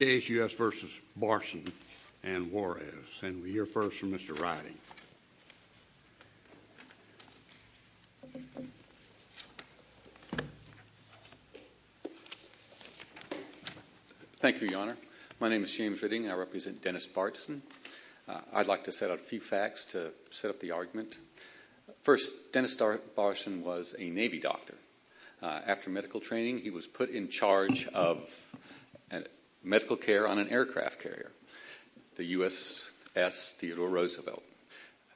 J.S.U.S. v. Barson and Juarez, and we hear first from Mr. Riding. Thank you, Your Honor. My name is James Riding and I represent Dennis Barson. I'd like to set out a few facts to set up the argument. First, Dennis Barson was a Navy doctor. After medical training, he was put in charge of medical care on an aircraft carrier, the USS Theodore Roosevelt.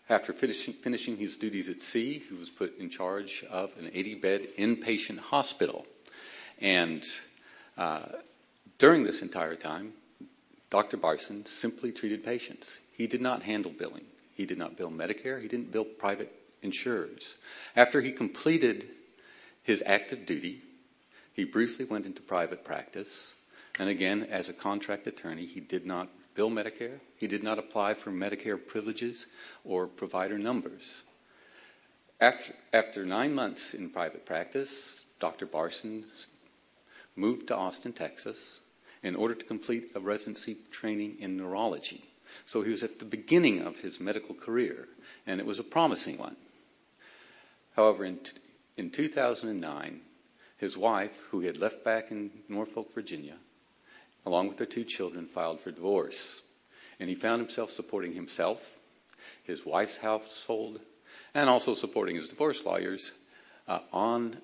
After finishing his duties at sea, he was put in charge of an 80-bed inpatient hospital. During this entire time, Dr. Barson simply treated patients. He did not handle billing. He did not bill Medicare. He didn't bill private insurers. After he completed his active duty, he briefly went into private practice, and again, as a contract attorney, he did not bill Medicare. He did not apply for Medicare privileges or provider numbers. After nine months in private practice, Dr. Barson moved to Austin, Texas, in order to complete a residency training in neurology. So he was at the beginning of his medical career, and it was a promising one. However, in 2009, his wife, who he had left back in Norfolk, Virginia, along with her two children, filed for divorce. And he found himself supporting himself, his wife's household, and also supporting his divorce lawyers on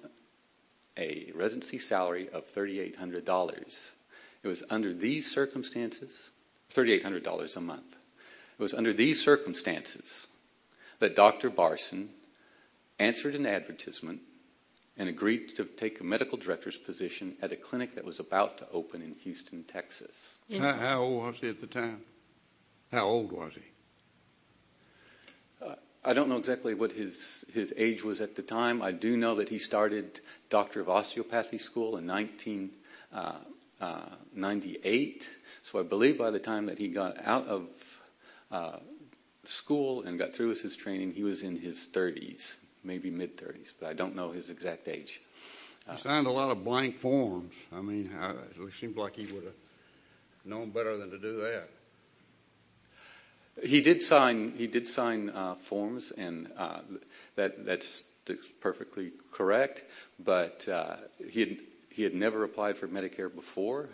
a residency salary of $3,800. It was under these circumstances, $3,800 a month, it was under these circumstances that Dr. Barson answered an advertisement and agreed to take a medical director's position at a clinic that was about to open in Houston, Texas. How old was he at the time? How old was he? I don't know exactly what his age was at the time. I do know that he started Doctor of Osteopathy School in 1998. So I believe by the time that he got out of school and got through with his training, he was in his 30s, maybe mid-30s, but I don't know his exact age. He signed a lot of blank forms. I mean, it seems like he would have known better than to do that. He did sign forms, and that's perfectly correct. But he had never applied for Medicare before,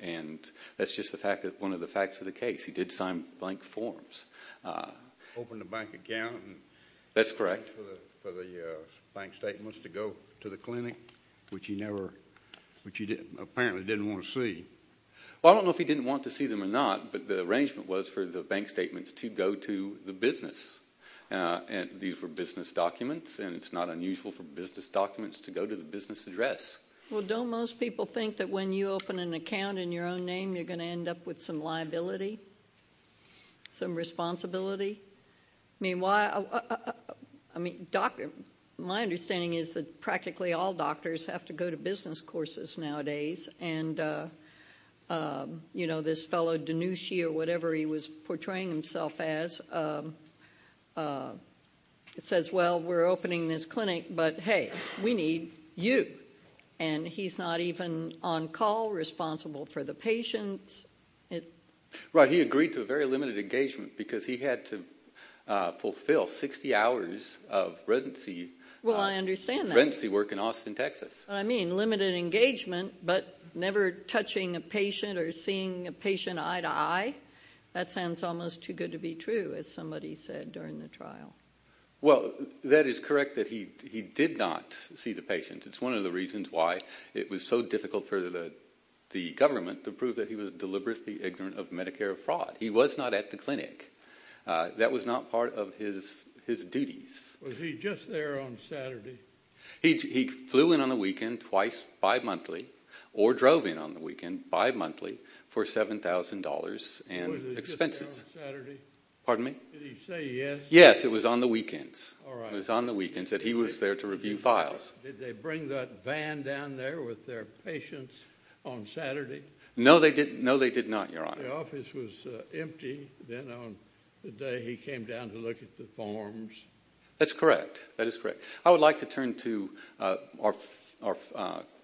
and that's just one of the facts of the case. He did sign blank forms. Opened a bank account. That's correct. For the bank statements to go to the clinic, which he apparently didn't want to see. Well, I don't know if he didn't want to see them or not, but the arrangement was for the bank statements to go to the business. These were business documents, and it's not unusual for business documents to go to the business address. Well, don't most people think that when you open an account in your own name, you're going to end up with some liability, some responsibility? I mean, my understanding is that practically all doctors have to go to business courses nowadays, and this fellow Dinushi or whatever he was portraying himself as says, well, we're opening this clinic, but hey, we need you. And he's not even on call, responsible for the patients. Right, he agreed to a very limited engagement because he had to fulfill 60 hours of residency work in Austin, Texas. What I mean, limited engagement but never touching a patient or seeing a patient eye-to-eye, that sounds almost too good to be true, as somebody said during the trial. Well, that is correct that he did not see the patients. It's one of the reasons why it was so difficult for the government to prove that he was deliberately ignorant of Medicare fraud. He was not at the clinic. That was not part of his duties. Was he just there on Saturday? He flew in on the weekend twice bimonthly or drove in on the weekend bimonthly for $7,000 in expenses. Was he just there on Saturday? Pardon me? Did he say yes? Yes, it was on the weekends. All right. It was on the weekends that he was there to review files. Did they bring that van down there with their patients on Saturday? No, they did not, Your Honor. The office was empty. Then on the day he came down to look at the forms. That's correct. That is correct. I would like to turn to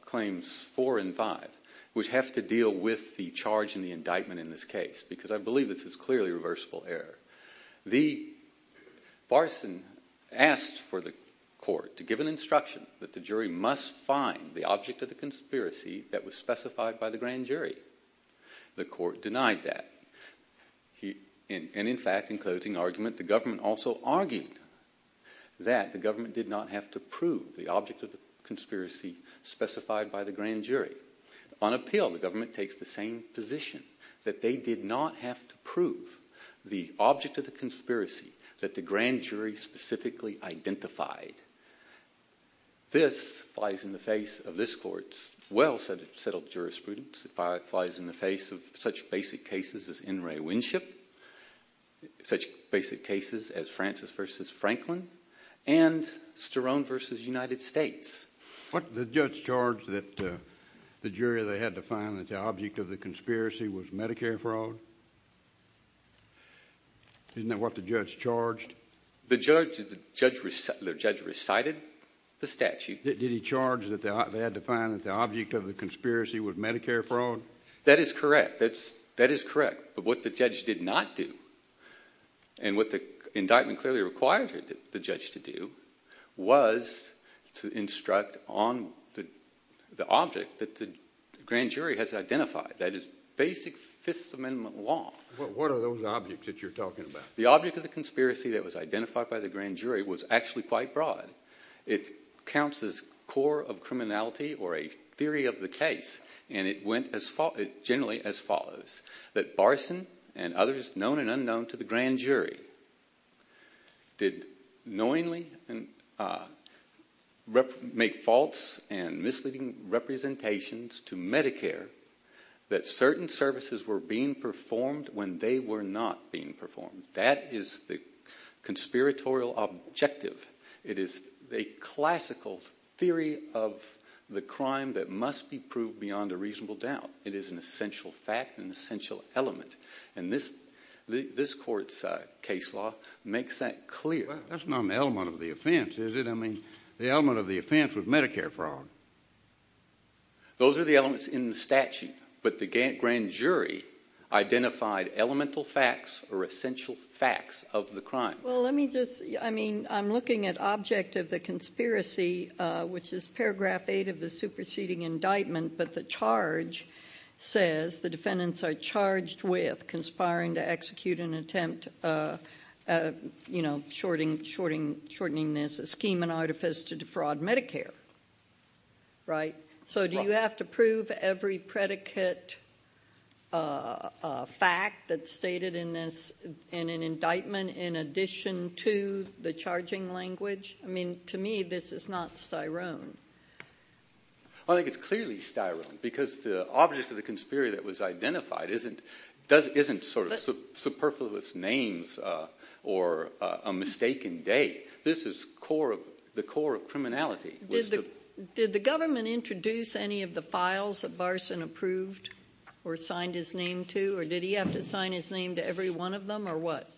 Claims 4 and 5, which have to deal with the charge and the indictment in this case because I believe this is clearly reversible error. The barson asked for the court to give an instruction that the jury must find the object of the conspiracy that was specified by the grand jury. The court denied that. In fact, in closing argument, the government also argued that the government did not have to prove the object of the conspiracy specified by the grand jury. On appeal, the government takes the same position, that they did not have to prove the object of the conspiracy that the grand jury specifically identified. This flies in the face of this court's well-settled jurisprudence. It flies in the face of such basic cases as In re Winship, such basic cases as Francis v. Franklin, and Sterone v. United States. The judge charged that the jury had to find that the object of the conspiracy was Medicare fraud. Isn't that what the judge charged? The judge recited the statute. Did he charge that they had to find that the object of the conspiracy was Medicare fraud? That is correct. But what the judge did not do, and what the indictment clearly required the judge to do, was to instruct on the object that the grand jury has identified. That is basic Fifth Amendment law. What are those objects that you're talking about? The object of the conspiracy that was identified by the grand jury was actually quite broad. It counts as core of criminality or a theory of the case, and it went generally as follows. That Barson and others, known and unknown to the grand jury, did knowingly make false and misleading representations to Medicare that certain services were being performed when they were not being performed. That is the conspiratorial objective. It is a classical theory of the crime that must be proved beyond a reasonable doubt. It is an essential fact, an essential element, and this court's case law makes that clear. That's not an element of the offense, is it? I mean the element of the offense was Medicare fraud. Those are the elements in the statute, but the grand jury identified elemental facts or essential facts of the crime. Well, let me just, I mean I'm looking at object of the conspiracy, which is paragraph 8 of the superseding indictment, but the charge says the defendants are charged with conspiring to execute an attempt, you know, shortening this scheme and artifice to defraud Medicare, right? So do you have to prove every predicate fact that's stated in this, in an indictment in addition to the charging language? I mean to me this is not Styrone. I think it's clearly Styrone because the object of the conspiracy that was identified isn't sort of superfluous names or a mistaken date. This is the core of criminality. Did the government introduce any of the files that Barson approved or signed his name to, or did he have to sign his name to every one of them, or what?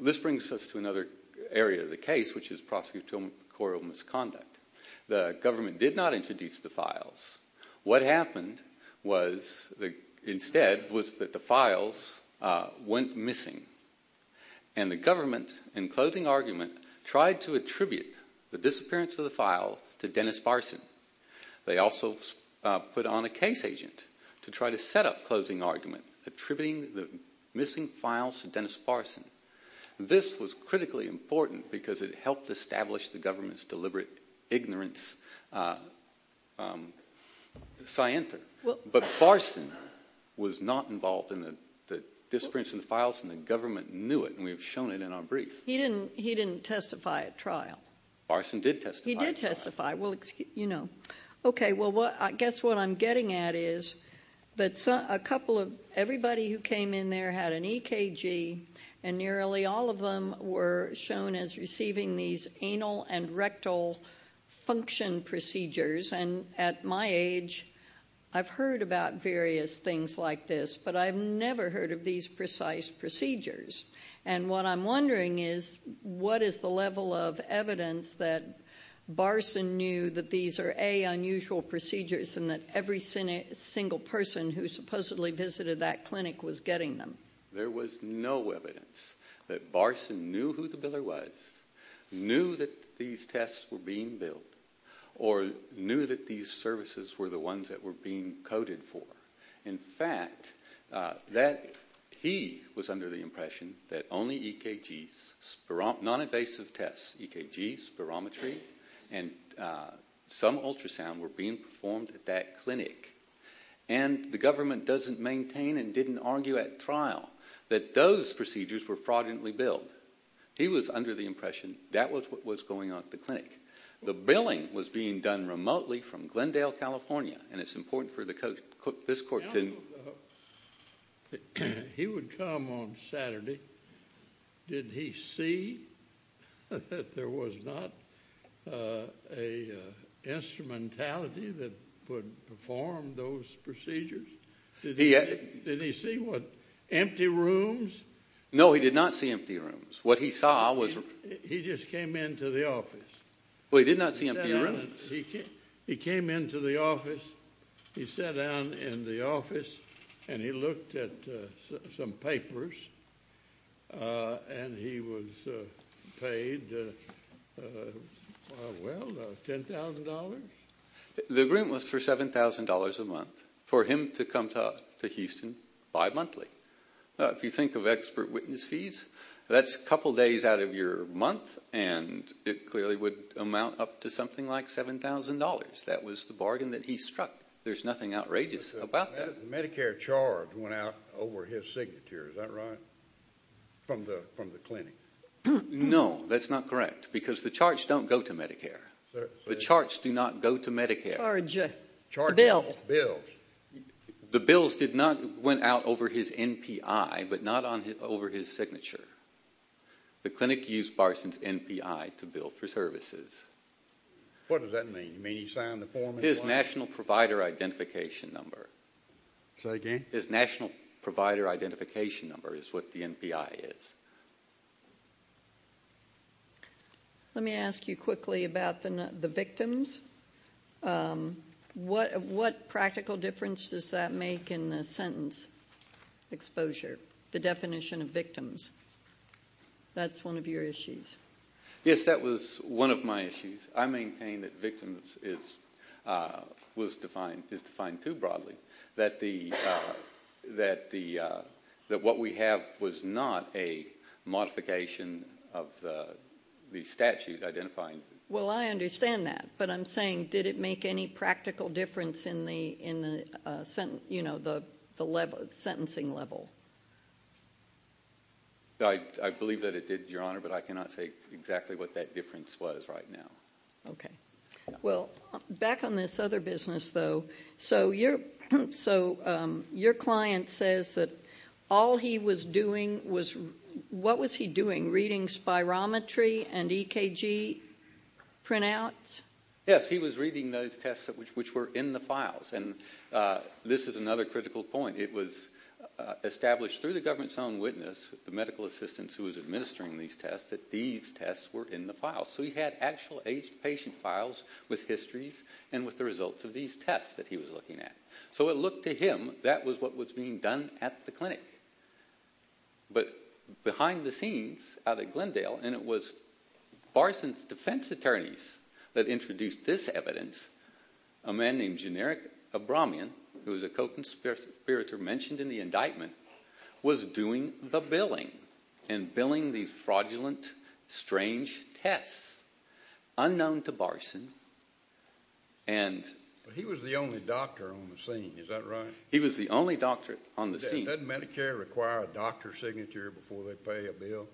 This brings us to another area of the case, which is prosecutorial misconduct. The government did not introduce the files. What happened instead was that the files went missing, and the government, in closing argument, tried to attribute the disappearance of the files to Dennis Barson. They also put on a case agent to try to set up, closing argument, attributing the missing files to Dennis Barson. This was critically important because it helped establish the government's deliberate ignorance. But Barson was not involved in the disappearance of the files, and the government knew it, and we've shown it in our brief. He didn't testify at trial. Barson did testify. He did testify. Okay, well, I guess what I'm getting at is that everybody who came in there had an EKG, and nearly all of them were shown as receiving these anal and rectal function procedures. And at my age, I've heard about various things like this, but I've never heard of these precise procedures. And what I'm wondering is, what is the level of evidence that Barson knew that these are, A, unusual procedures and that every single person who supposedly visited that clinic was getting them? There was no evidence that Barson knew who the biller was, knew that these tests were being billed, or knew that these services were the ones that were being coded for. In fact, he was under the impression that only EKGs, non-invasive tests, EKGs, spirometry, and some ultrasound were being performed at that clinic. And the government doesn't maintain and didn't argue at trial that those procedures were fraudulently billed. He was under the impression that was what was going on at the clinic. The billing was being done remotely from Glendale, California, and it's important for this court to... He would come on Saturday. Did he see that there was not an instrumentality that would perform those procedures? Did he see, what, empty rooms? No, he did not see empty rooms. What he saw was... He just came into the office. Well, he did not see empty rooms. He came into the office. He sat down in the office, and he looked at some papers, and he was paid, well, $10,000. The agreement was for $7,000 a month for him to come to Houston bi-monthly. If you think of expert witness fees, that's a couple days out of your month, and it clearly would amount up to something like $7,000. That was the bargain that he struck. There's nothing outrageous about that. The Medicare charge went out over his signature, is that right, from the clinic? No, that's not correct because the charge don't go to Medicare. The charts do not go to Medicare. Charges, bills. The bills did not went out over his NPI but not over his signature. The clinic used Barson's NPI to bill for services. What does that mean? You mean he signed the form? His national provider identification number. Say again? His national provider identification number is what the NPI is. Let me ask you quickly about the victims. What practical difference does that make in the sentence exposure, the definition of victims? That's one of your issues. Yes, that was one of my issues. I maintain that victims is defined too broadly, that what we have was not a modification of the statute identifying. Well, I understand that, but I'm saying, did it make any practical difference in the sentencing level? I believe that it did, Your Honor, but I cannot say exactly what that difference was right now. Okay. Well, back on this other business, though. So your client says that all he was doing was, what was he doing? Reading spirometry and EKG printouts? Yes, he was reading those tests which were in the files. And this is another critical point. It was established through the government's own witness, the medical assistants who was administering these tests, that these tests were in the files. So he had actual aged patient files with histories and with the results of these tests that he was looking at. So it looked to him that was what was being done at the clinic. But behind the scenes out at Glendale, and it was Barson's defense attorneys that introduced this evidence, a man named Generic Abramian, who was a co-conspirator mentioned in the indictment, was doing the billing and billing these fraudulent, strange tests, unknown to Barson. But he was the only doctor on the scene, is that right? He was the only doctor on the scene. Doesn't Medicare require a doctor's signature before they pay a bill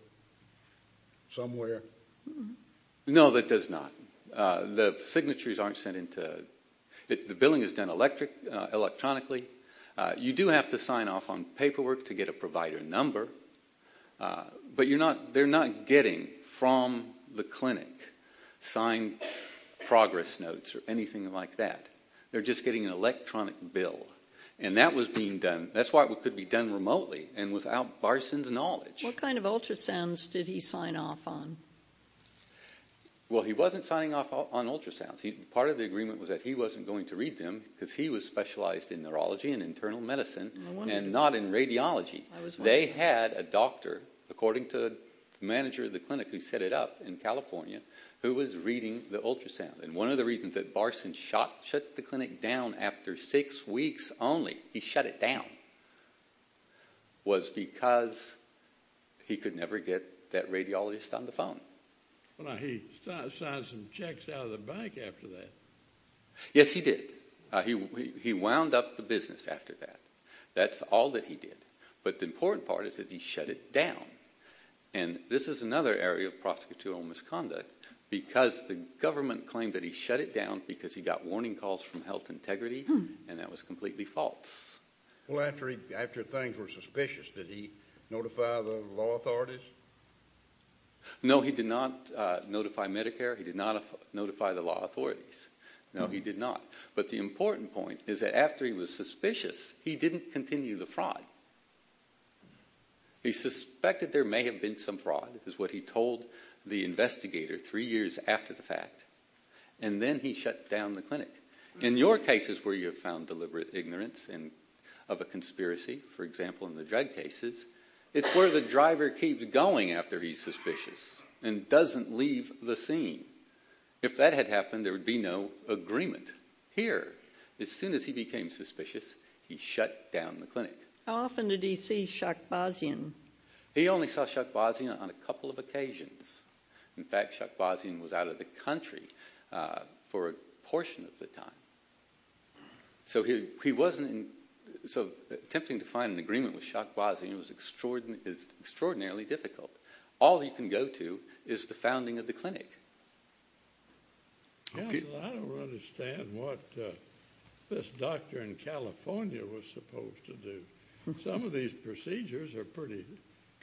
somewhere? No, it does not. The signatures aren't sent into the... The billing is done electronically. You do have to sign off on paperwork to get a provider number. But they're not getting from the clinic signed progress notes or anything like that. They're just getting an electronic bill. And that was being done. That's why it could be done remotely and without Barson's knowledge. What kind of ultrasounds did he sign off on? Well, he wasn't signing off on ultrasounds. Part of the agreement was that he wasn't going to read them because he was specialized in neurology and internal medicine and not in radiology. They had a doctor, according to the manager of the clinic who set it up in California, who was reading the ultrasound. And one of the reasons that Barson shut the clinic down after six weeks only, he shut it down, was because he could never get that radiologist on the phone. He signed some checks out of the bank after that. Yes, he did. He wound up the business after that. That's all that he did. But the important part is that he shut it down. And this is another area of prosecutorial misconduct because the government claimed that he shut it down because he got warning calls from Health Integrity, and that was completely false. Well, after things were suspicious, did he notify the law authorities? No, he did not notify Medicare. He did not notify the law authorities. No, he did not. But the important point is that after he was suspicious, he didn't continue the fraud. He suspected there may have been some fraud, is what he told the investigator three years after the fact, and then he shut down the clinic. In your cases where you have found deliberate ignorance of a conspiracy, for example, in the drug cases, it's where the driver keeps going after he's suspicious and doesn't leave the scene. If that had happened, there would be no agreement. Here, as soon as he became suspicious, he shut down the clinic. How often did he see Shakhbazian? He only saw Shakhbazian on a couple of occasions. In fact, Shakhbazian was out of the country for a portion of the time. So attempting to find an agreement with Shakhbazian is extraordinarily difficult. All he can go to is the founding of the clinic. Counsel, I don't understand what this doctor in California was supposed to do. Some of these procedures are pretty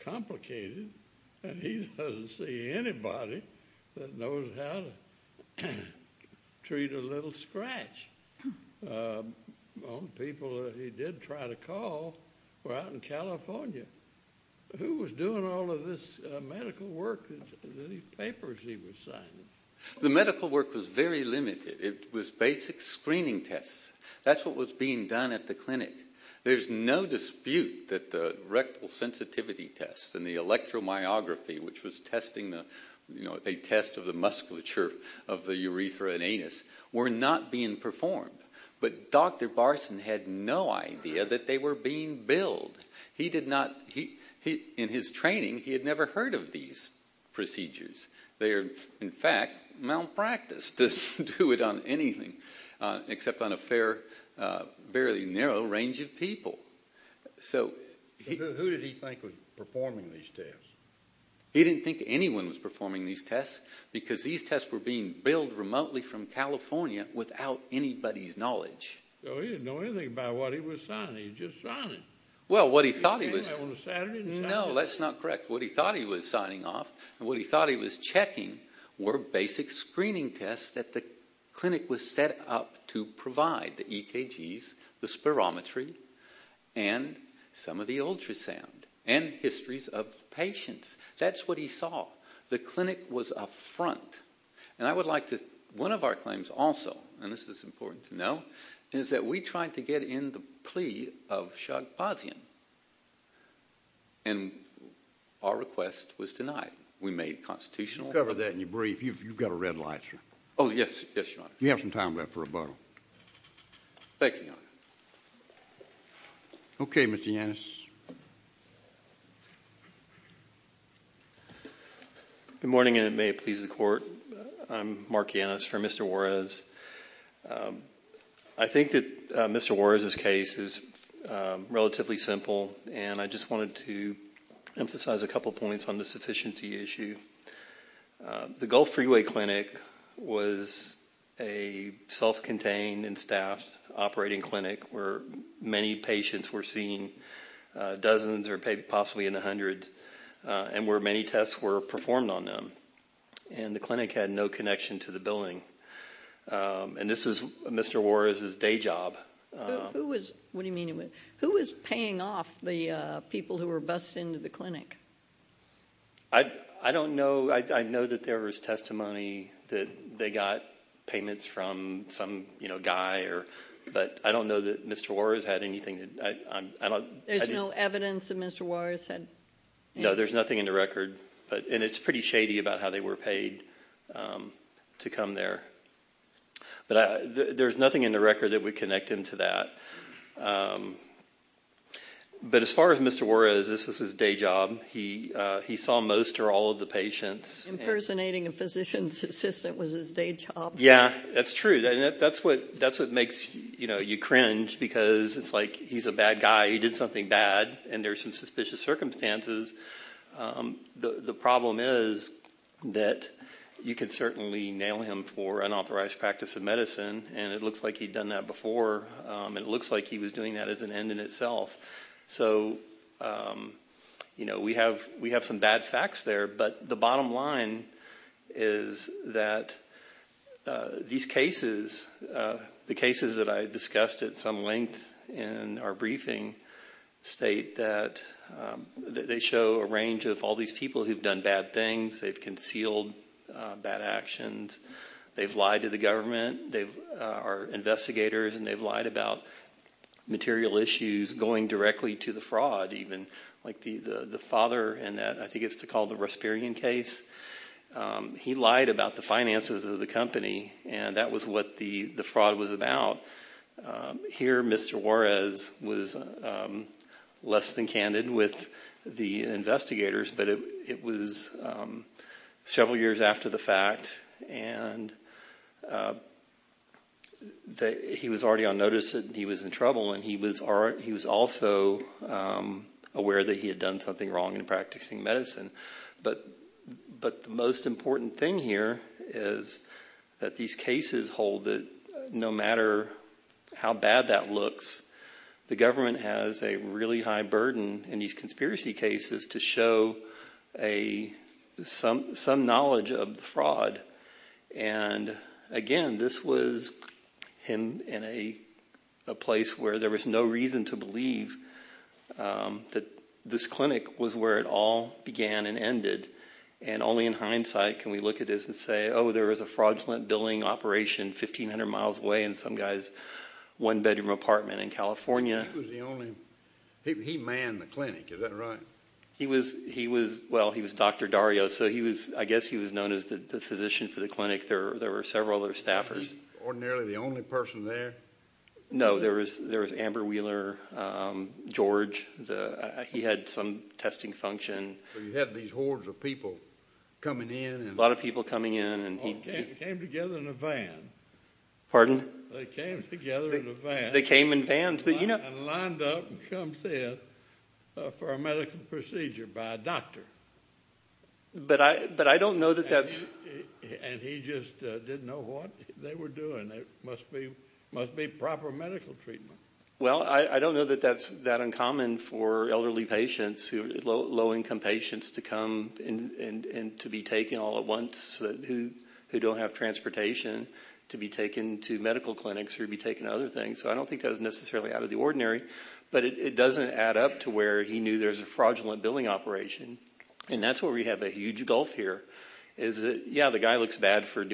complicated, and he doesn't see anybody that knows how to treat a little scratch. The only people that he did try to call were out in California. Who was doing all of this medical work, the papers he was signing? The medical work was very limited. It was basic screening tests. That's what was being done at the clinic. There's no dispute that the rectal sensitivity tests and the electromyography, which was a test of the musculature of the urethra and anus, were not being performed. But Dr. Barson had no idea that they were being billed. In his training, he had never heard of these procedures. They are, in fact, malpractice. He just doesn't do it on anything except on a fairly narrow range of people. Who did he think was performing these tests? He didn't think anyone was performing these tests because these tests were being billed remotely from California without anybody's knowledge. He didn't know anything about what he was signing. He was just signing. Well, what he thought he was signing off, and what he thought he was checking, were basic screening tests that the clinic was set up to provide, the EKGs, the spirometry, and some of the ultrasound, and histories of patients. That's what he saw. The clinic was up front. One of our claims also, and this is important to know, is that we tried to get in the plea of Shagpazian, and our request was denied. We made constitutional. We'll cover that in your brief. You've got a red light, sir. Oh, yes, Your Honor. You have some time left for rebuttal. Thank you, Your Honor. Okay, Mr. Yannis. Good morning, and may it please the Court. I'm Mark Yannis for Mr. Juarez. I think that Mr. Juarez's case is relatively simple, and I just wanted to emphasize a couple of points on the sufficiency issue. The Gulf Freeway Clinic was a self-contained and staffed operating clinic where many patients were seen, dozens or possibly in the hundreds, and where many tests were performed on them, and the clinic had no connection to the billing, and this was Mr. Juarez's day job. What do you mean? Who was paying off the people who were bused into the clinic? I don't know. I know that there was testimony that they got payments from some guy, but I don't know that Mr. Juarez had anything. There's no evidence that Mr. Juarez had anything? No, there's nothing in the record, and it's pretty shady about how they were paid to come there. But there's nothing in the record that would connect him to that. But as far as Mr. Juarez, this was his day job. He saw most or all of the patients. Impersonating a physician's assistant was his day job. Yeah, that's true. That's what makes you cringe because it's like he's a bad guy. He did something bad, and there's some suspicious circumstances. The problem is that you can certainly nail him for unauthorized practice of medicine, and it looks like he'd done that before, and it looks like he was doing that as an end in itself. We have some bad facts there, but the bottom line is that these cases, the cases that I discussed at some length in our briefing state that they show a range of all these people who've done bad things. They've concealed bad actions. They've lied to the government. They are investigators, and they've lied about material issues going directly to the fraud, even. Like the father in that, I think it's called the Rasperian case, he lied about the finances of the company, and that was what the fraud was about. Here, Mr. Juarez was less than candid with the investigators, but it was several years after the fact, and he was already on notice that he was in trouble, and he was also aware that he had done something wrong in practicing medicine. But the most important thing here is that these cases hold that no matter how bad that looks, the government has a really high burden in these conspiracy cases to show some knowledge of the fraud. Again, this was in a place where there was no reason to believe that this clinic was where it all began and ended, and only in hindsight can we look at this and say, oh, there was a fraudulent billing operation 1,500 miles away in some guy's one-bedroom apartment in California. He manned the clinic, is that right? Well, he was Dr. Dario, so I guess he was known as the physician for the clinic. There were several other staffers. Was he ordinarily the only person there? No, there was Amber Wheeler, George. He had some testing function. So you had these hordes of people coming in. A lot of people coming in. They came together in a van. Pardon? They came together in a van. They came in vans, but you know. And lined up and come sit for a medical procedure by a doctor. But I don't know that that's... And he just didn't know what they were doing. It must be proper medical treatment. Well, I don't know that that's that uncommon for elderly patients, low-income patients to come and to be taken all at once who don't have transportation, to be taken to medical clinics or to be taken to other things. So I don't think that was necessarily out of the ordinary. But it doesn't add up to where he knew there was a fraudulent billing operation. And that's where we have a huge gulf here. Yeah, the guy looks bad for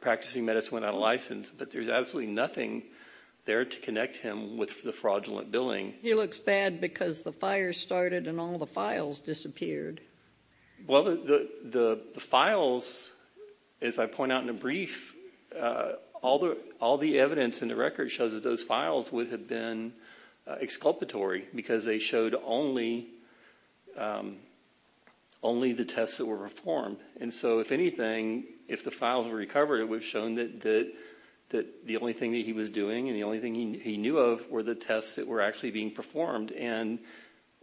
practicing medicine without a license, but there's absolutely nothing there to connect him with the fraudulent billing. He looks bad because the fire started and all the files disappeared. Well, the files, as I point out in a brief, all the evidence in the record shows that those files would have been exculpatory because they showed only the tests that were performed. And so if anything, if the files were recovered, it would have shown that the only thing that he was doing and the only thing he knew of were the tests that were actually being performed. And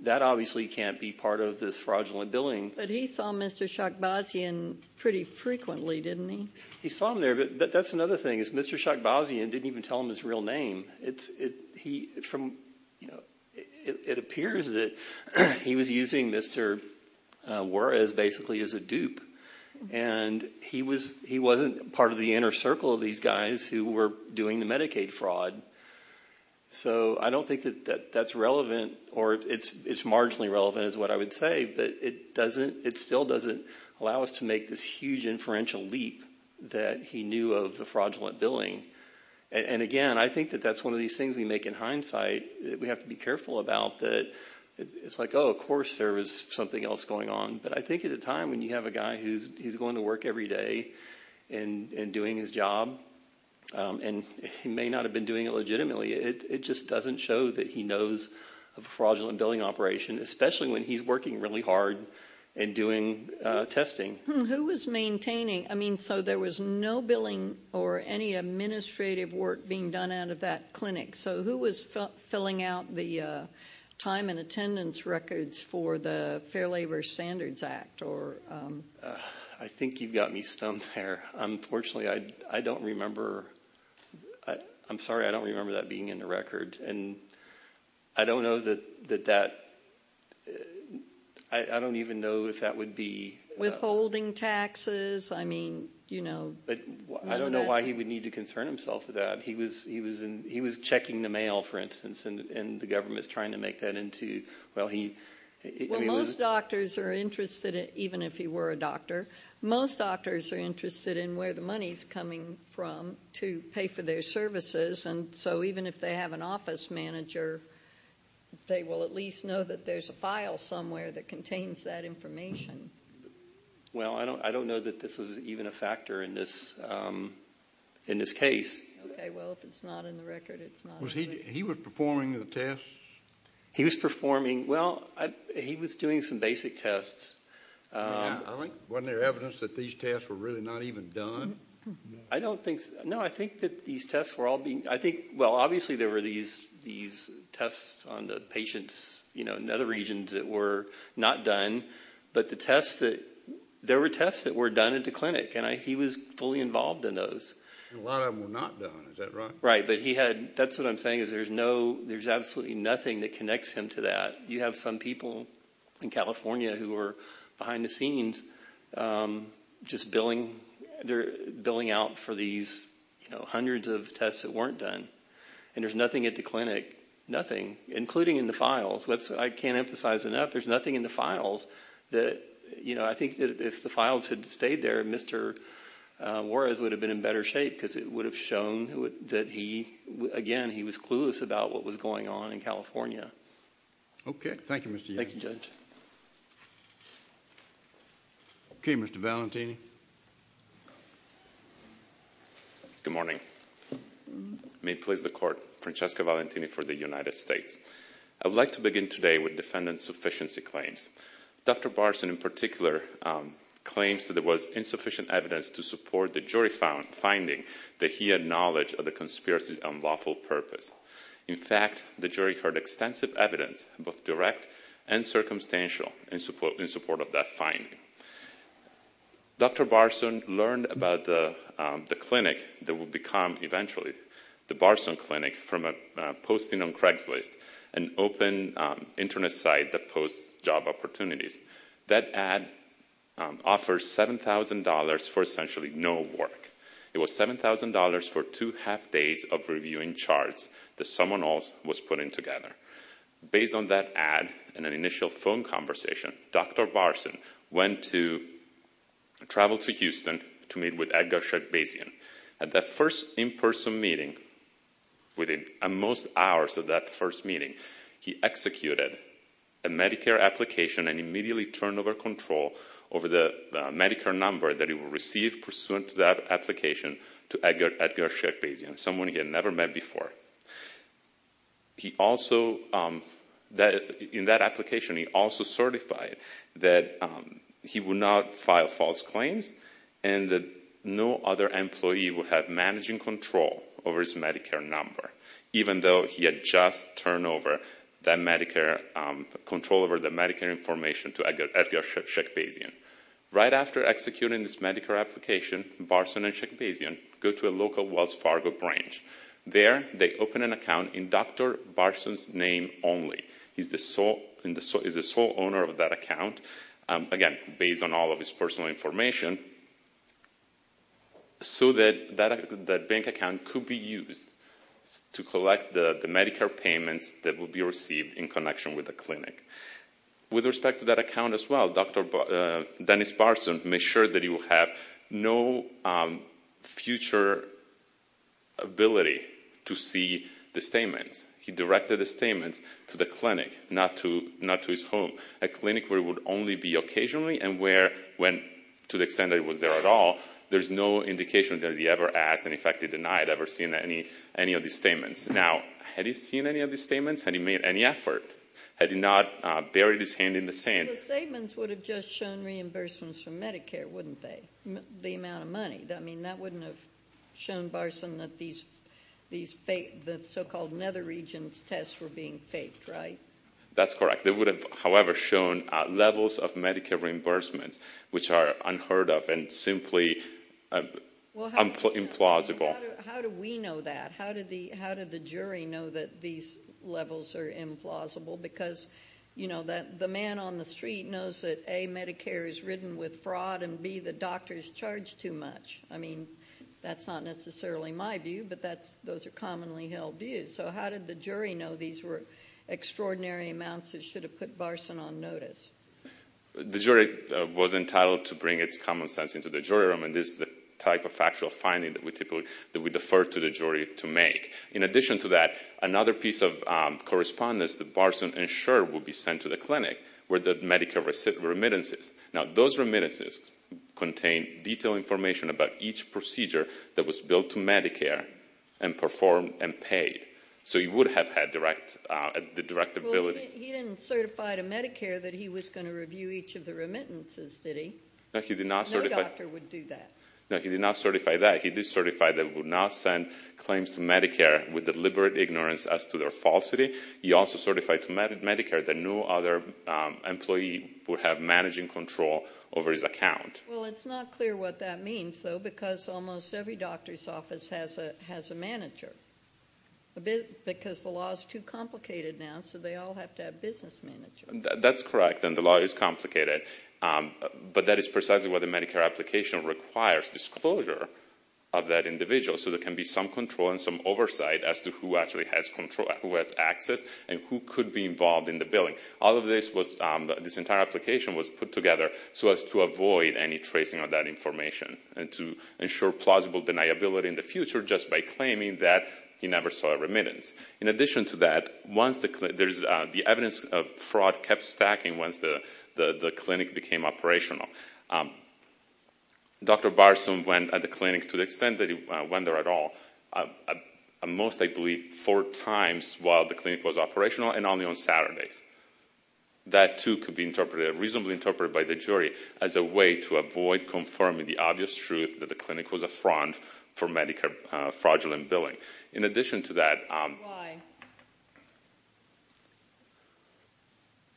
that obviously can't be part of this fraudulent billing. But he saw Mr. Shakbazian pretty frequently, didn't he? He saw him there. But that's another thing is Mr. Shakbazian didn't even tell him his real name. It appears that he was using Mr. Juarez basically as a dupe. And he wasn't part of the inner circle of these guys who were doing the Medicaid fraud. So I don't think that that's relevant, or it's marginally relevant is what I would say, but it still doesn't allow us to make this huge inferential leap that he knew of the fraudulent billing. And, again, I think that that's one of these things we make in hindsight. We have to be careful about that. It's like, oh, of course there is something else going on. But I think at a time when you have a guy who's going to work every day and doing his job, and he may not have been doing it legitimately, it just doesn't show that he knows of a fraudulent billing operation, especially when he's working really hard and doing testing. Who was maintaining? I mean, so there was no billing or any administrative work being done out of that clinic. So who was filling out the time and attendance records for the Fair Labor Standards Act? I think you've got me stumped there. Unfortunately, I don't remember. I'm sorry, I don't remember that being in the record. And I don't know that that – I don't even know if that would be – withholding taxes, I mean, you know. But I don't know why he would need to concern himself with that. He was checking the mail, for instance, and the government is trying to make that into – Well, most doctors are interested, even if he were a doctor, most doctors are interested in where the money is coming from to pay for their services. And so even if they have an office manager, they will at least know that there's a file somewhere that contains that information. Well, I don't know that this was even a factor in this case. Okay, well, if it's not in the record, it's not. Was he – he was performing the tests? He was performing – well, he was doing some basic tests. Wasn't there evidence that these tests were really not even done? I don't think – no, I think that these tests were all being – I think – well, obviously, there were these tests on the patients, you know, in other regions that were not done, but the tests that – there were tests that were done at the clinic, and he was fully involved in those. A lot of them were not done, is that right? Right, but he had – that's what I'm saying is there's no – there's absolutely nothing that connects him to that. You have some people in California who are behind the scenes just billing – And there's nothing at the clinic – nothing, including in the files. I can't emphasize enough, there's nothing in the files that – you know, I think that if the files had stayed there, Mr. Juarez would have been in better shape because it would have shown that he – again, he was clueless about what was going on in California. Okay, thank you, Mr. Yates. Thank you, Judge. Okay, Mr. Valentini. Good morning. May it please the Court, Francesco Valentini for the United States. I would like to begin today with defendant's sufficiency claims. Dr. Barson, in particular, claims that there was insufficient evidence to support the jury finding that he had knowledge of the conspiracy on lawful purpose. In fact, the jury heard extensive evidence, both direct and circumstantial, in support of that finding. Dr. Barson learned about the clinic that would become, eventually, the Barson Clinic from a posting on Craigslist, an open Internet site that posts job opportunities. That ad offers $7,000 for essentially no work. It was $7,000 for two half days of reviewing charts that someone else was putting together. Based on that ad and an initial phone conversation, Dr. Barson went to travel to Houston to meet with Edgar Sheckbazian. At that first in-person meeting, within most hours of that first meeting, he executed a Medicare application and immediately turned over control over the Medicare number that he would receive pursuant to that application to Edgar Sheckbazian, someone he had never met before. In that application, he also certified that he would not file false claims and that no other employee would have managing control over his Medicare number, even though he had just turned over control over the Medicare information to Edgar Sheckbazian. Right after executing this Medicare application, Barson and Sheckbazian go to a local Wells Fargo branch. There they open an account in Dr. Barson's name only. He's the sole owner of that account, again, based on all of his personal information, so that bank account could be used to collect the Medicare payments that will be received in connection with the clinic. With respect to that account as well, Dr. Dennis Barson made sure that he would have no future ability to see the statements. He directed the statements to the clinic, not to his home, a clinic where it would only be occasionally and where, to the extent that it was there at all, there's no indication that he ever asked and, in fact, he denied ever seeing any of these statements. Now, had he seen any of these statements? Had he made any effort? Had he not buried his hand in the sand? The statements would have just shown reimbursements for Medicare, wouldn't they? The amount of money. I mean, that wouldn't have shown Barson that these so-called nether regions tests were being faked, right? That's correct. They would have, however, shown levels of Medicare reimbursements, which are unheard of and simply implausible. How do we know that? How did the jury know that these levels are implausible? Because, you know, the man on the street knows that, A, Medicare is ridden with fraud, and, B, the doctors charge too much. I mean, that's not necessarily my view, but those are commonly held views. So how did the jury know these were extraordinary amounts that should have put Barson on notice? The jury was entitled to bring its common sense into the jury room, and this is the type of factual finding that we typically defer to the jury to make. In addition to that, another piece of correspondence that Barson ensured would be sent to the clinic were the Medicare remittances. Now, those remittances contained detailed information about each procedure that was billed to Medicare and performed and paid. So he would have had the direct ability. Well, he didn't certify to Medicare that he was going to review each of the remittances, did he? No, he did not certify. No doctor would do that. No, he did not certify that. He did certify that he would not send claims to Medicare with deliberate ignorance as to their falsity. He also certified to Medicare that no other employee would have managing control over his account. Well, it's not clear what that means, though, because almost every doctor's office has a manager, because the law is too complicated now, so they all have to have business managers. That's correct, and the law is complicated. But that is precisely why the Medicare application requires disclosure of that individual so there can be some control and some oversight as to who actually has access and who could be involved in the billing. This entire application was put together so as to avoid any tracing of that information and to ensure plausible deniability in the future just by claiming that he never saw a remittance. In addition to that, the evidence of fraud kept stacking once the clinic became operational. Dr. Barson went at the clinic, to the extent that he went there at all, most, I believe, four times while the clinic was operational and only on Saturdays. That, too, could be reasonably interpreted by the jury as a way to avoid confirming the obvious truth that the clinic was a front for Medicare fraudulent billing. In addition to that... Why?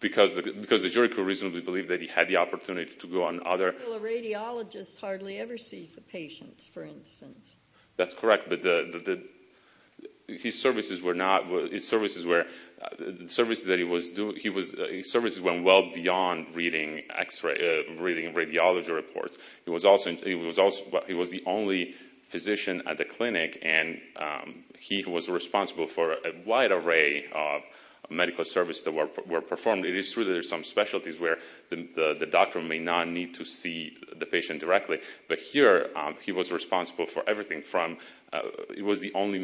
Because the jury could reasonably believe that he had the opportunity to go on other... Well, a radiologist hardly ever sees the patients, for instance. That's correct, but his services went well beyond reading radiology reports. He was the only physician at the clinic, and he was responsible for a wide array of medical services that were performed. It is true that there are some specialties where the doctor may not need to see the patient directly, but here he was responsible for everything from... He was the only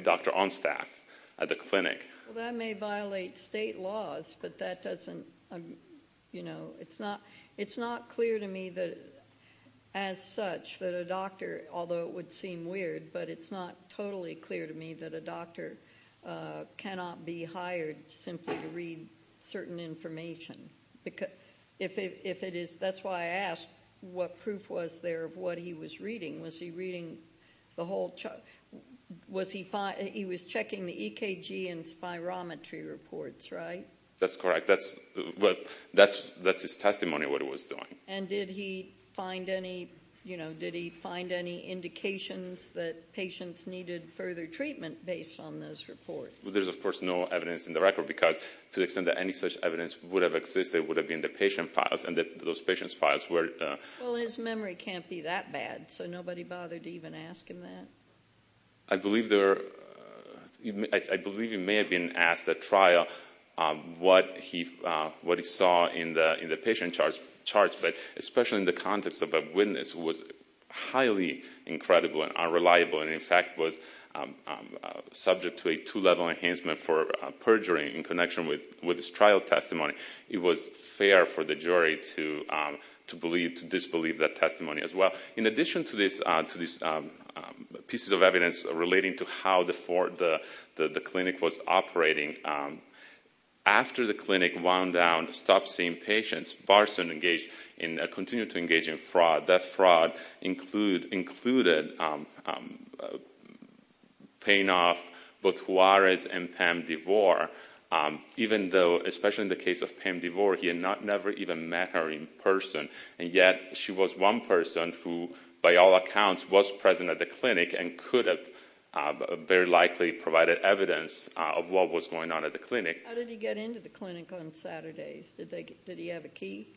doctor on staff at the clinic. Well, that may violate state laws, but that doesn't... It's not clear to me as such that a doctor, although it would seem weird, but it's not totally clear to me that a doctor cannot be hired simply to read certain information. That's why I asked what proof was there of what he was reading. Was he reading the whole... He was checking the EKG and spirometry reports, right? That's correct. That's his testimony of what he was doing. And did he find any indications that patients needed further treatment based on those reports? There's, of course, no evidence in the record, because to the extent that any such evidence would have existed, it would have been the patient files, and those patient files were... Well, his memory can't be that bad, so nobody bothered to even ask him that. I believe there are... I believe he may have been asked at trial what he saw in the patient charts, but especially in the context of a witness who was highly incredible and unreliable and, in fact, was subject to a two-level enhancement for perjury in connection with his trial testimony, it was fair for the jury to disbelieve that testimony as well. In addition to these pieces of evidence relating to how the clinic was operating, after the clinic wound down, stopped seeing patients, Barson continued to engage in fraud. That fraud included paying off both Juarez and Pam DeVore, even though, especially in the case of Pam DeVore, he had never even met her in person, and yet she was one person who, by all accounts, was present at the clinic and could have very likely provided evidence of what was going on at the clinic. How did he get into the clinic on Saturdays? Did he have a key?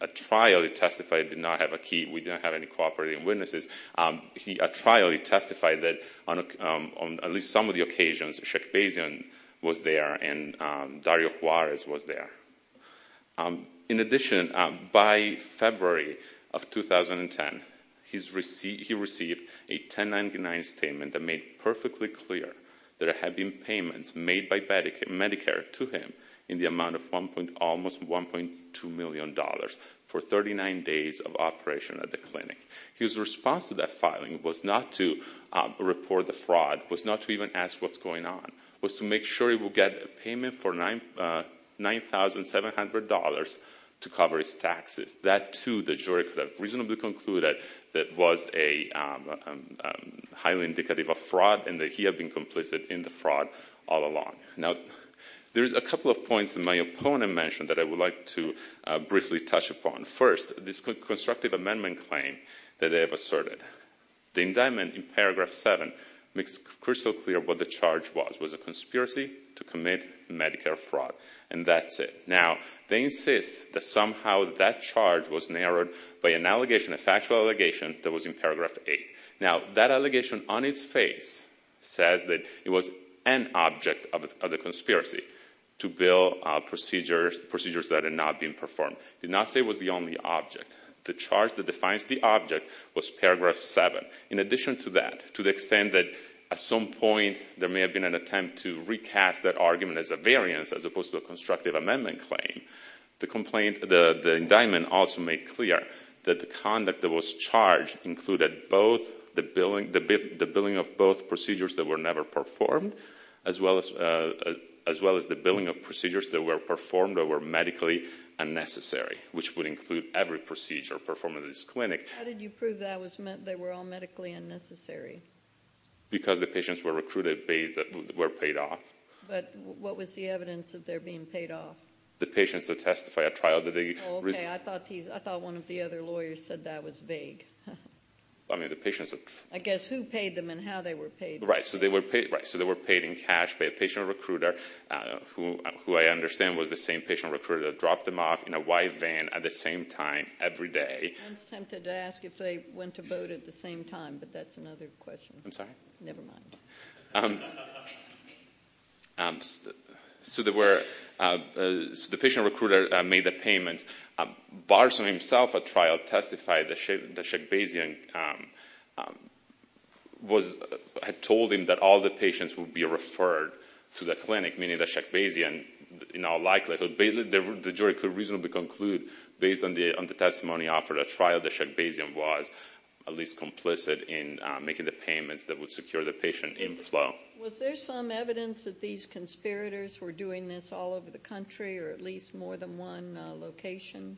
At trial he testified he did not have a key. We didn't have any cooperating witnesses. At trial he testified that, on at least some of the occasions, Sheck Basian was there and Dario Juarez was there. In addition, by February of 2010, he received a 1099 statement that made perfectly clear that there had been payments made by Medicare to him in the amount of almost $1.2 million for 39 days of operation at the clinic. His response to that filing was not to report the fraud, was not to even ask what's going on, was to make sure he would get a payment for $9,700 to cover his taxes. That, too, the jury could have reasonably concluded that was a highly indicative of fraud and that he had been complicit in the fraud all along. Now, there's a couple of points that my opponent mentioned that I would like to briefly touch upon. First, this constructive amendment claim that they have asserted. The indictment in paragraph 7 makes crystal clear what the charge was. It was a conspiracy to commit Medicare fraud, and that's it. Now, they insist that somehow that charge was narrowed by an allegation, a factual allegation, that was in paragraph 8. Now, that allegation on its face says that it was an object of the conspiracy to build procedures that had not been performed. It did not say it was the only object. The charge that defines the object was paragraph 7. In addition to that, to the extent that at some point there may have been an attempt to recast that argument as a variance as opposed to a constructive amendment claim, the indictment also made clear that the conduct that was charged included the billing of both procedures that were never performed as well as the billing of procedures that were performed or were medically unnecessary, which would include every procedure performed at this clinic. How did you prove that they were all medically unnecessary? Because the patients were recruited based that were paid off. But what was the evidence of their being paid off? The patients that testify at trial that they— Oh, okay. I thought one of the other lawyers said that was vague. I mean, the patients— I guess who paid them and how they were paid. Right, so they were paid in cash by a patient recruiter who I understand was the same patient recruiter that dropped them off in a white van at the same time every day. I was tempted to ask if they went to vote at the same time, but that's another question. I'm sorry? Never mind. So the patient recruiter made the payments. Barson himself at trial testified that Sheckbazian had told him that all the patients would be referred to the clinic, meaning that Sheckbazian, in all likelihood, the jury could reasonably conclude based on the testimony offered at trial that Sheckbazian was at least complicit in making the payments that would secure the patient inflow. Was there some evidence that these conspirators were doing this all over the country or at least more than one location?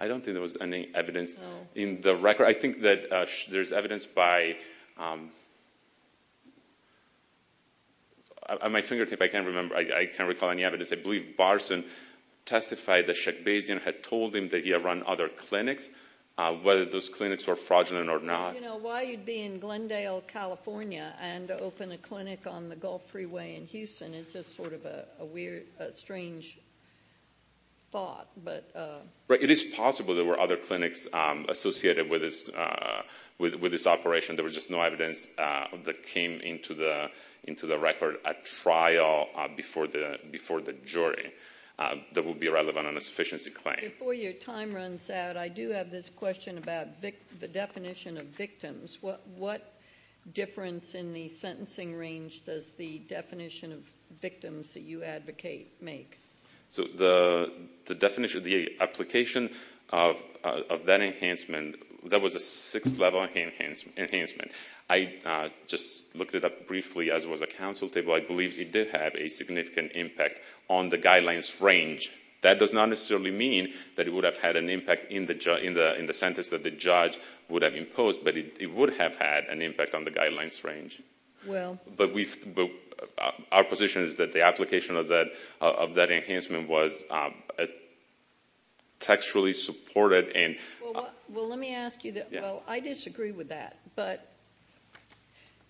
I don't think there was any evidence in the record. I think that there's evidence by—at my fingertip, I can't recall any evidence. I believe Barson testified that Sheckbazian had told him that he had run other clinics, whether those clinics were fraudulent or not. You know, why you'd be in Glendale, California, and open a clinic on the Gulf Freeway in Houston is just sort of a weird, strange thought. It is possible there were other clinics associated with this operation. There was just no evidence that came into the record at trial before the jury that would be relevant on a sufficiency claim. Before your time runs out, I do have this question about the definition of victims. What difference in the sentencing range does the definition of victims that you advocate make? The application of that enhancement, that was a six-level enhancement. I just looked it up briefly as it was a counsel table. I believe it did have a significant impact on the guidelines range. That does not necessarily mean that it would have had an impact in the sentence that the judge would have imposed, but it would have had an impact on the guidelines range. Well— But our position is that the application of that enhancement was textually supported and— Well, let me ask you—well, I disagree with that. But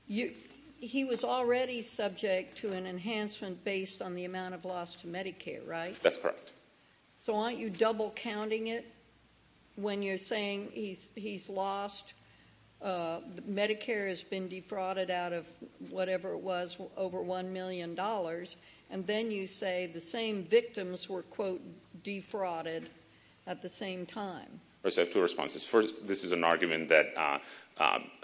he was already subject to an enhancement based on the amount of loss to Medicare, right? That's correct. So aren't you double-counting it when you're saying he's lost? Medicare has been defrauded out of whatever it was, over $1 million, and then you say the same victims were, quote, defrauded at the same time. I just have two responses. First, this is an argument that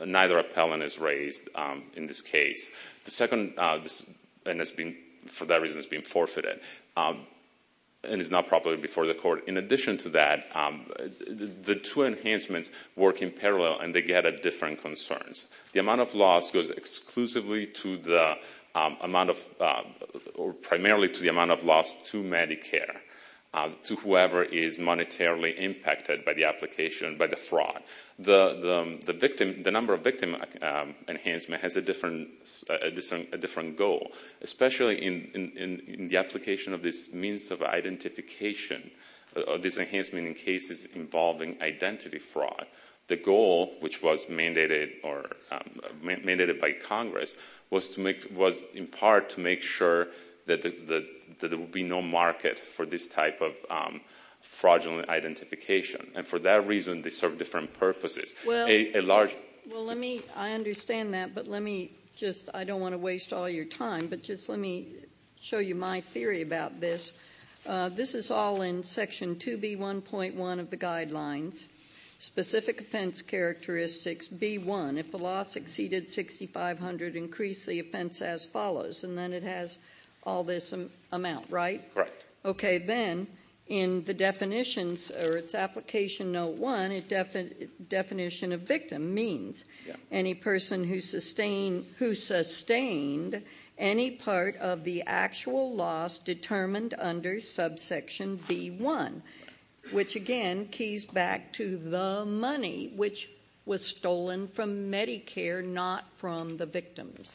neither appellant is raised in this case. The second—and for that reason it's been forfeited and is not properly before the court. In addition to that, the two enhancements work in parallel and they get at different concerns. The amount of loss goes exclusively to the amount of—or primarily to the amount of loss to Medicare, to whoever is monetarily impacted by the application, by the fraud. The victim—the number of victim enhancement has a different goal, especially in the application of this means of identification, this enhancement in cases involving identity fraud. The goal, which was mandated by Congress, was in part to make sure that there would be no market for this type of fraudulent identification. And for that reason, they serve different purposes. A large— Well, let me—I understand that, but let me just—I don't want to waste all your time, but just let me show you my theory about this. This is all in Section 2B1.1 of the guidelines. Specific offense characteristics, B1. If the loss exceeded 6,500, increase the offense as follows. And then it has all this amount, right? Right. Okay. Then in the definitions or its application note 1, definition of victim means any person who sustained any part of the actual loss determined under subsection B1, which, again, keys back to the money, which was stolen from Medicare, not from the victims.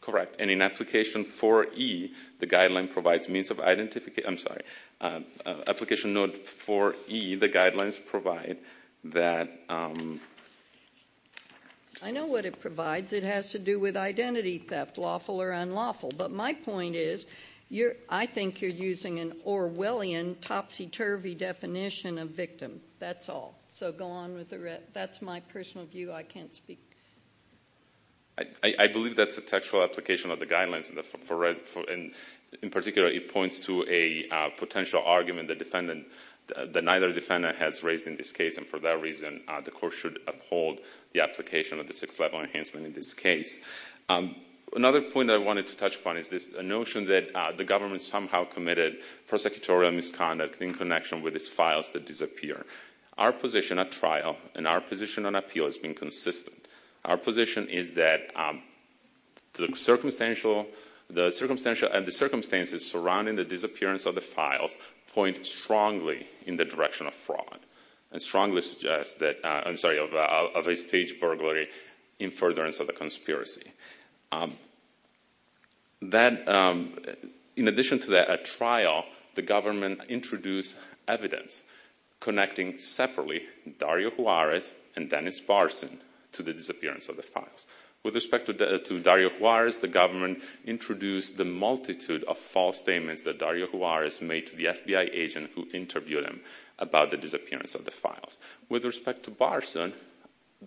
Correct. Correct. And in application 4E, the guideline provides means of identification—I'm sorry. Application note 4E, the guidelines provide that— I know what it provides. It has to do with identity theft, lawful or unlawful. But my point is I think you're using an Orwellian, topsy-turvy definition of victim. That's all. So go on with the rest. That's my personal view. I can't speak. I believe that's a textual application of the guidelines. In particular, it points to a potential argument that neither defendant has raised in this case, and for that reason the court should uphold the application of the 6th level enhancement in this case. Another point I wanted to touch upon is this notion that the government somehow committed prosecutorial misconduct in connection with its files that disappear. Our position at trial and our position on appeal has been consistent. Our position is that the circumstances surrounding the disappearance of the files point strongly in the direction of fraud and strongly suggest that—I'm sorry, of a staged burglary in furtherance of the conspiracy. In addition to that, at trial, the government introduced evidence connecting separately Dario Juarez and Dennis Barson to the disappearance of the files. With respect to Dario Juarez, the government introduced the multitude of false statements that Dario Juarez made to the FBI agent who interviewed him about the disappearance of the files. With respect to Barson,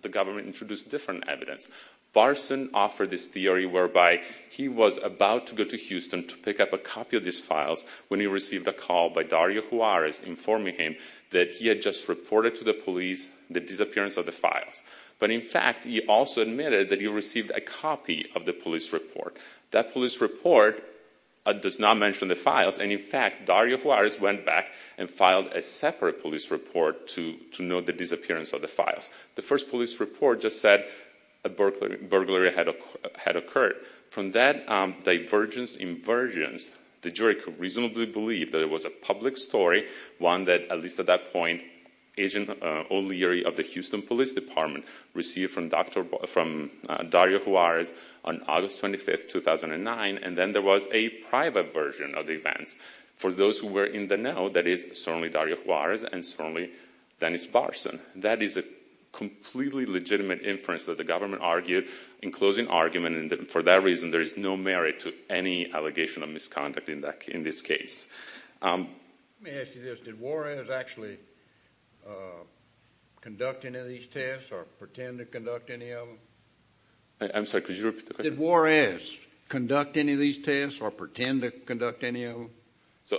the government introduced different evidence. Barson offered this theory whereby he was about to go to Houston to pick up a copy of these files when he received a call by Dario Juarez informing him that he had just reported to the police the disappearance of the files. But in fact, he also admitted that he received a copy of the police report. That police report does not mention the files, and in fact, Dario Juarez went back and filed a separate police report to note the disappearance of the files. The first police report just said a burglary had occurred. From that divergence in versions, the jury could reasonably believe that it was a public story, one that, at least at that point, Agent O'Leary of the Houston Police Department received from Dario Juarez on August 25, 2009, and then there was a private version of the events. For those who were in the know, that is certainly Dario Juarez and certainly Dennis Barson. That is a completely legitimate inference that the government argued in closing argument, and for that reason there is no merit to any allegation of misconduct in this case. Let me ask you this. Did Juarez actually conduct any of these tests or pretend to conduct any of them? I'm sorry, could you repeat the question? Did Juarez conduct any of these tests or pretend to conduct any of them?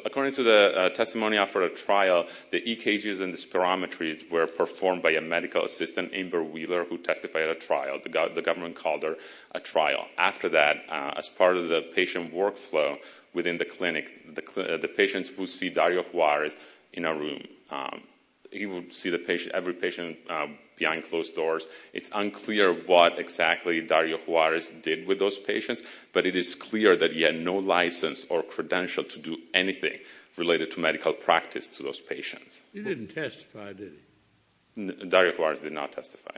According to the testimony after a trial, the EKGs and the spirometries were performed by a medical assistant, Amber Wheeler, who testified at a trial. The government called it a trial. After that, as part of the patient workflow within the clinic, the patients who see Dario Juarez in a room, he would see every patient behind closed doors. It's unclear what exactly Dario Juarez did with those patients, but it is clear that he had no license or credential to do anything related to medical practice to those patients. He didn't testify, did he? Dario Juarez did not testify.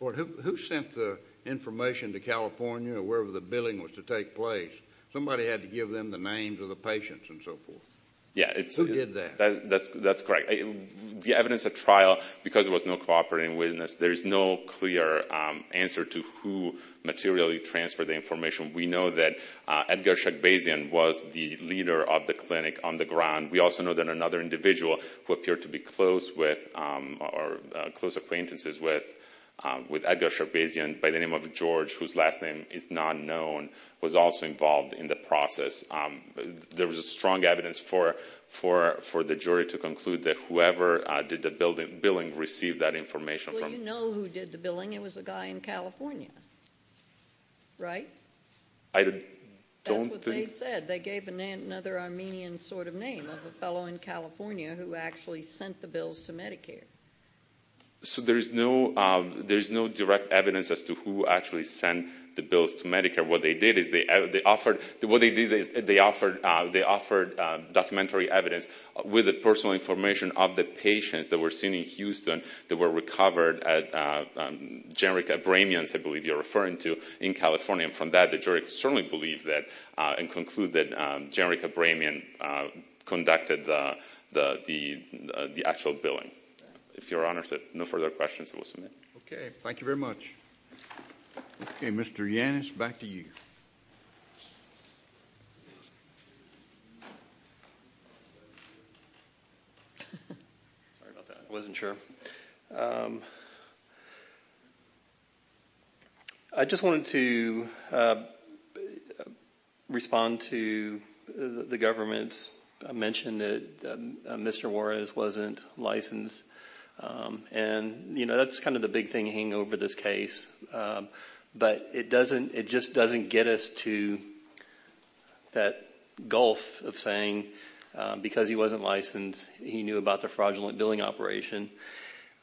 Who sent the information to California or wherever the billing was to take place? Somebody had to give them the names of the patients and so forth. Who did that? That's correct. The evidence at trial, because there was no cooperating witness, there is no clear answer to who materially transferred the information. We know that Edgar Shagbazian was the leader of the clinic on the ground. We also know that another individual who appeared to be close with or close acquaintances with Edgar Shagbazian, by the name of George, whose last name is not known, was also involved in the process. There was strong evidence for the jury to conclude that whoever did the billing received that information. Well, you know who did the billing. It was a guy in California, right? That's what they said. They gave another Armenian sort of name of a fellow in California who actually sent the bills to Medicare. So there is no direct evidence as to who actually sent the bills to Medicare. What they did is they offered documentary evidence with the personal information of the patients that were seen in Houston that were recovered at Generica Bramion's, I believe you're referring to, in California. And from that, the jury certainly believed that and concluded that Generica Bramion conducted the actual billing. If Your Honor has no further questions, I will submit. Okay. Thank you very much. Okay. Mr. Yannis, back to you. Sorry about that. I wasn't sure. I just wanted to respond to the government's mention that Mr. Juarez wasn't licensed. And, you know, that's kind of the big thing hanging over this case. But it just doesn't get us to that gulf of saying because he wasn't licensed, he knew about the fraudulent billing operation.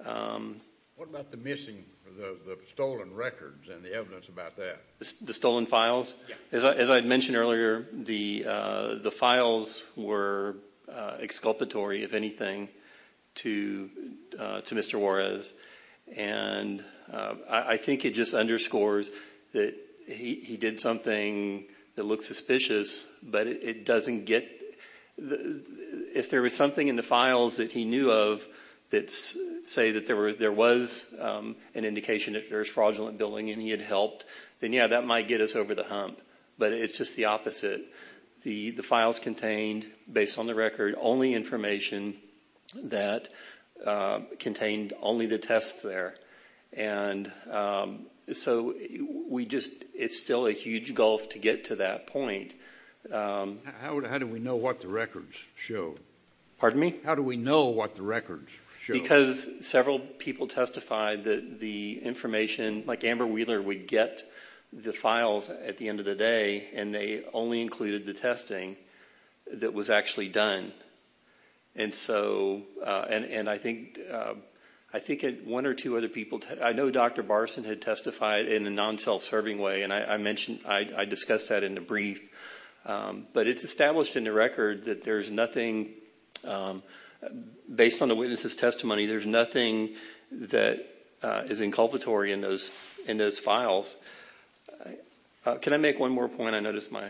What about the missing, the stolen records and the evidence about that? The stolen files? Yeah. As I mentioned earlier, the files were exculpatory, if anything, to Mr. Juarez. And I think it just underscores that he did something that looks suspicious, but it doesn't get – if there was something in the files that he knew of that say that there was an indication that there was fraudulent billing and he had helped, then yeah, that might get us over the hump. But it's just the opposite. The files contained, based on the record, only information that contained only the tests there. And so we just – it's still a huge gulf to get to that point. How do we know what the records show? Pardon me? How do we know what the records show? Because several people testified that the information – like Amber Wheeler would get the files at the end of the day, and they only included the testing that was actually done. And so – and I think one or two other people – I know Dr. Barson had testified in a non-self-serving way, and I mentioned – I discussed that in the brief. But it's established in the record that there's nothing – based on the witness's testimony, there's nothing that is inculpatory in those files. Can I make one more point? I noticed my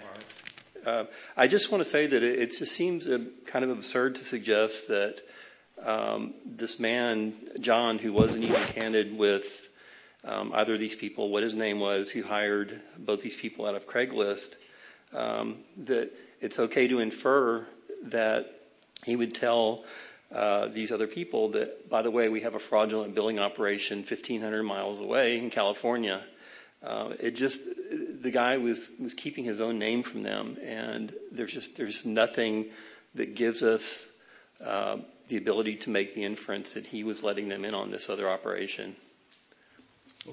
– I just want to say that it seems kind of absurd to suggest that this man, John, who wasn't even handed with either of these people what his name was, who hired both these people out of Craigslist, that it's okay to infer that he would tell these other people that, by the way, we have a fraudulent billing operation 1,500 miles away in California. It just – the guy was keeping his own name from them, and there's just – there's nothing that gives us the ability to make the inference that he was letting them in on this other operation.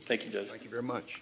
Thank you, Judge. Thank you very much.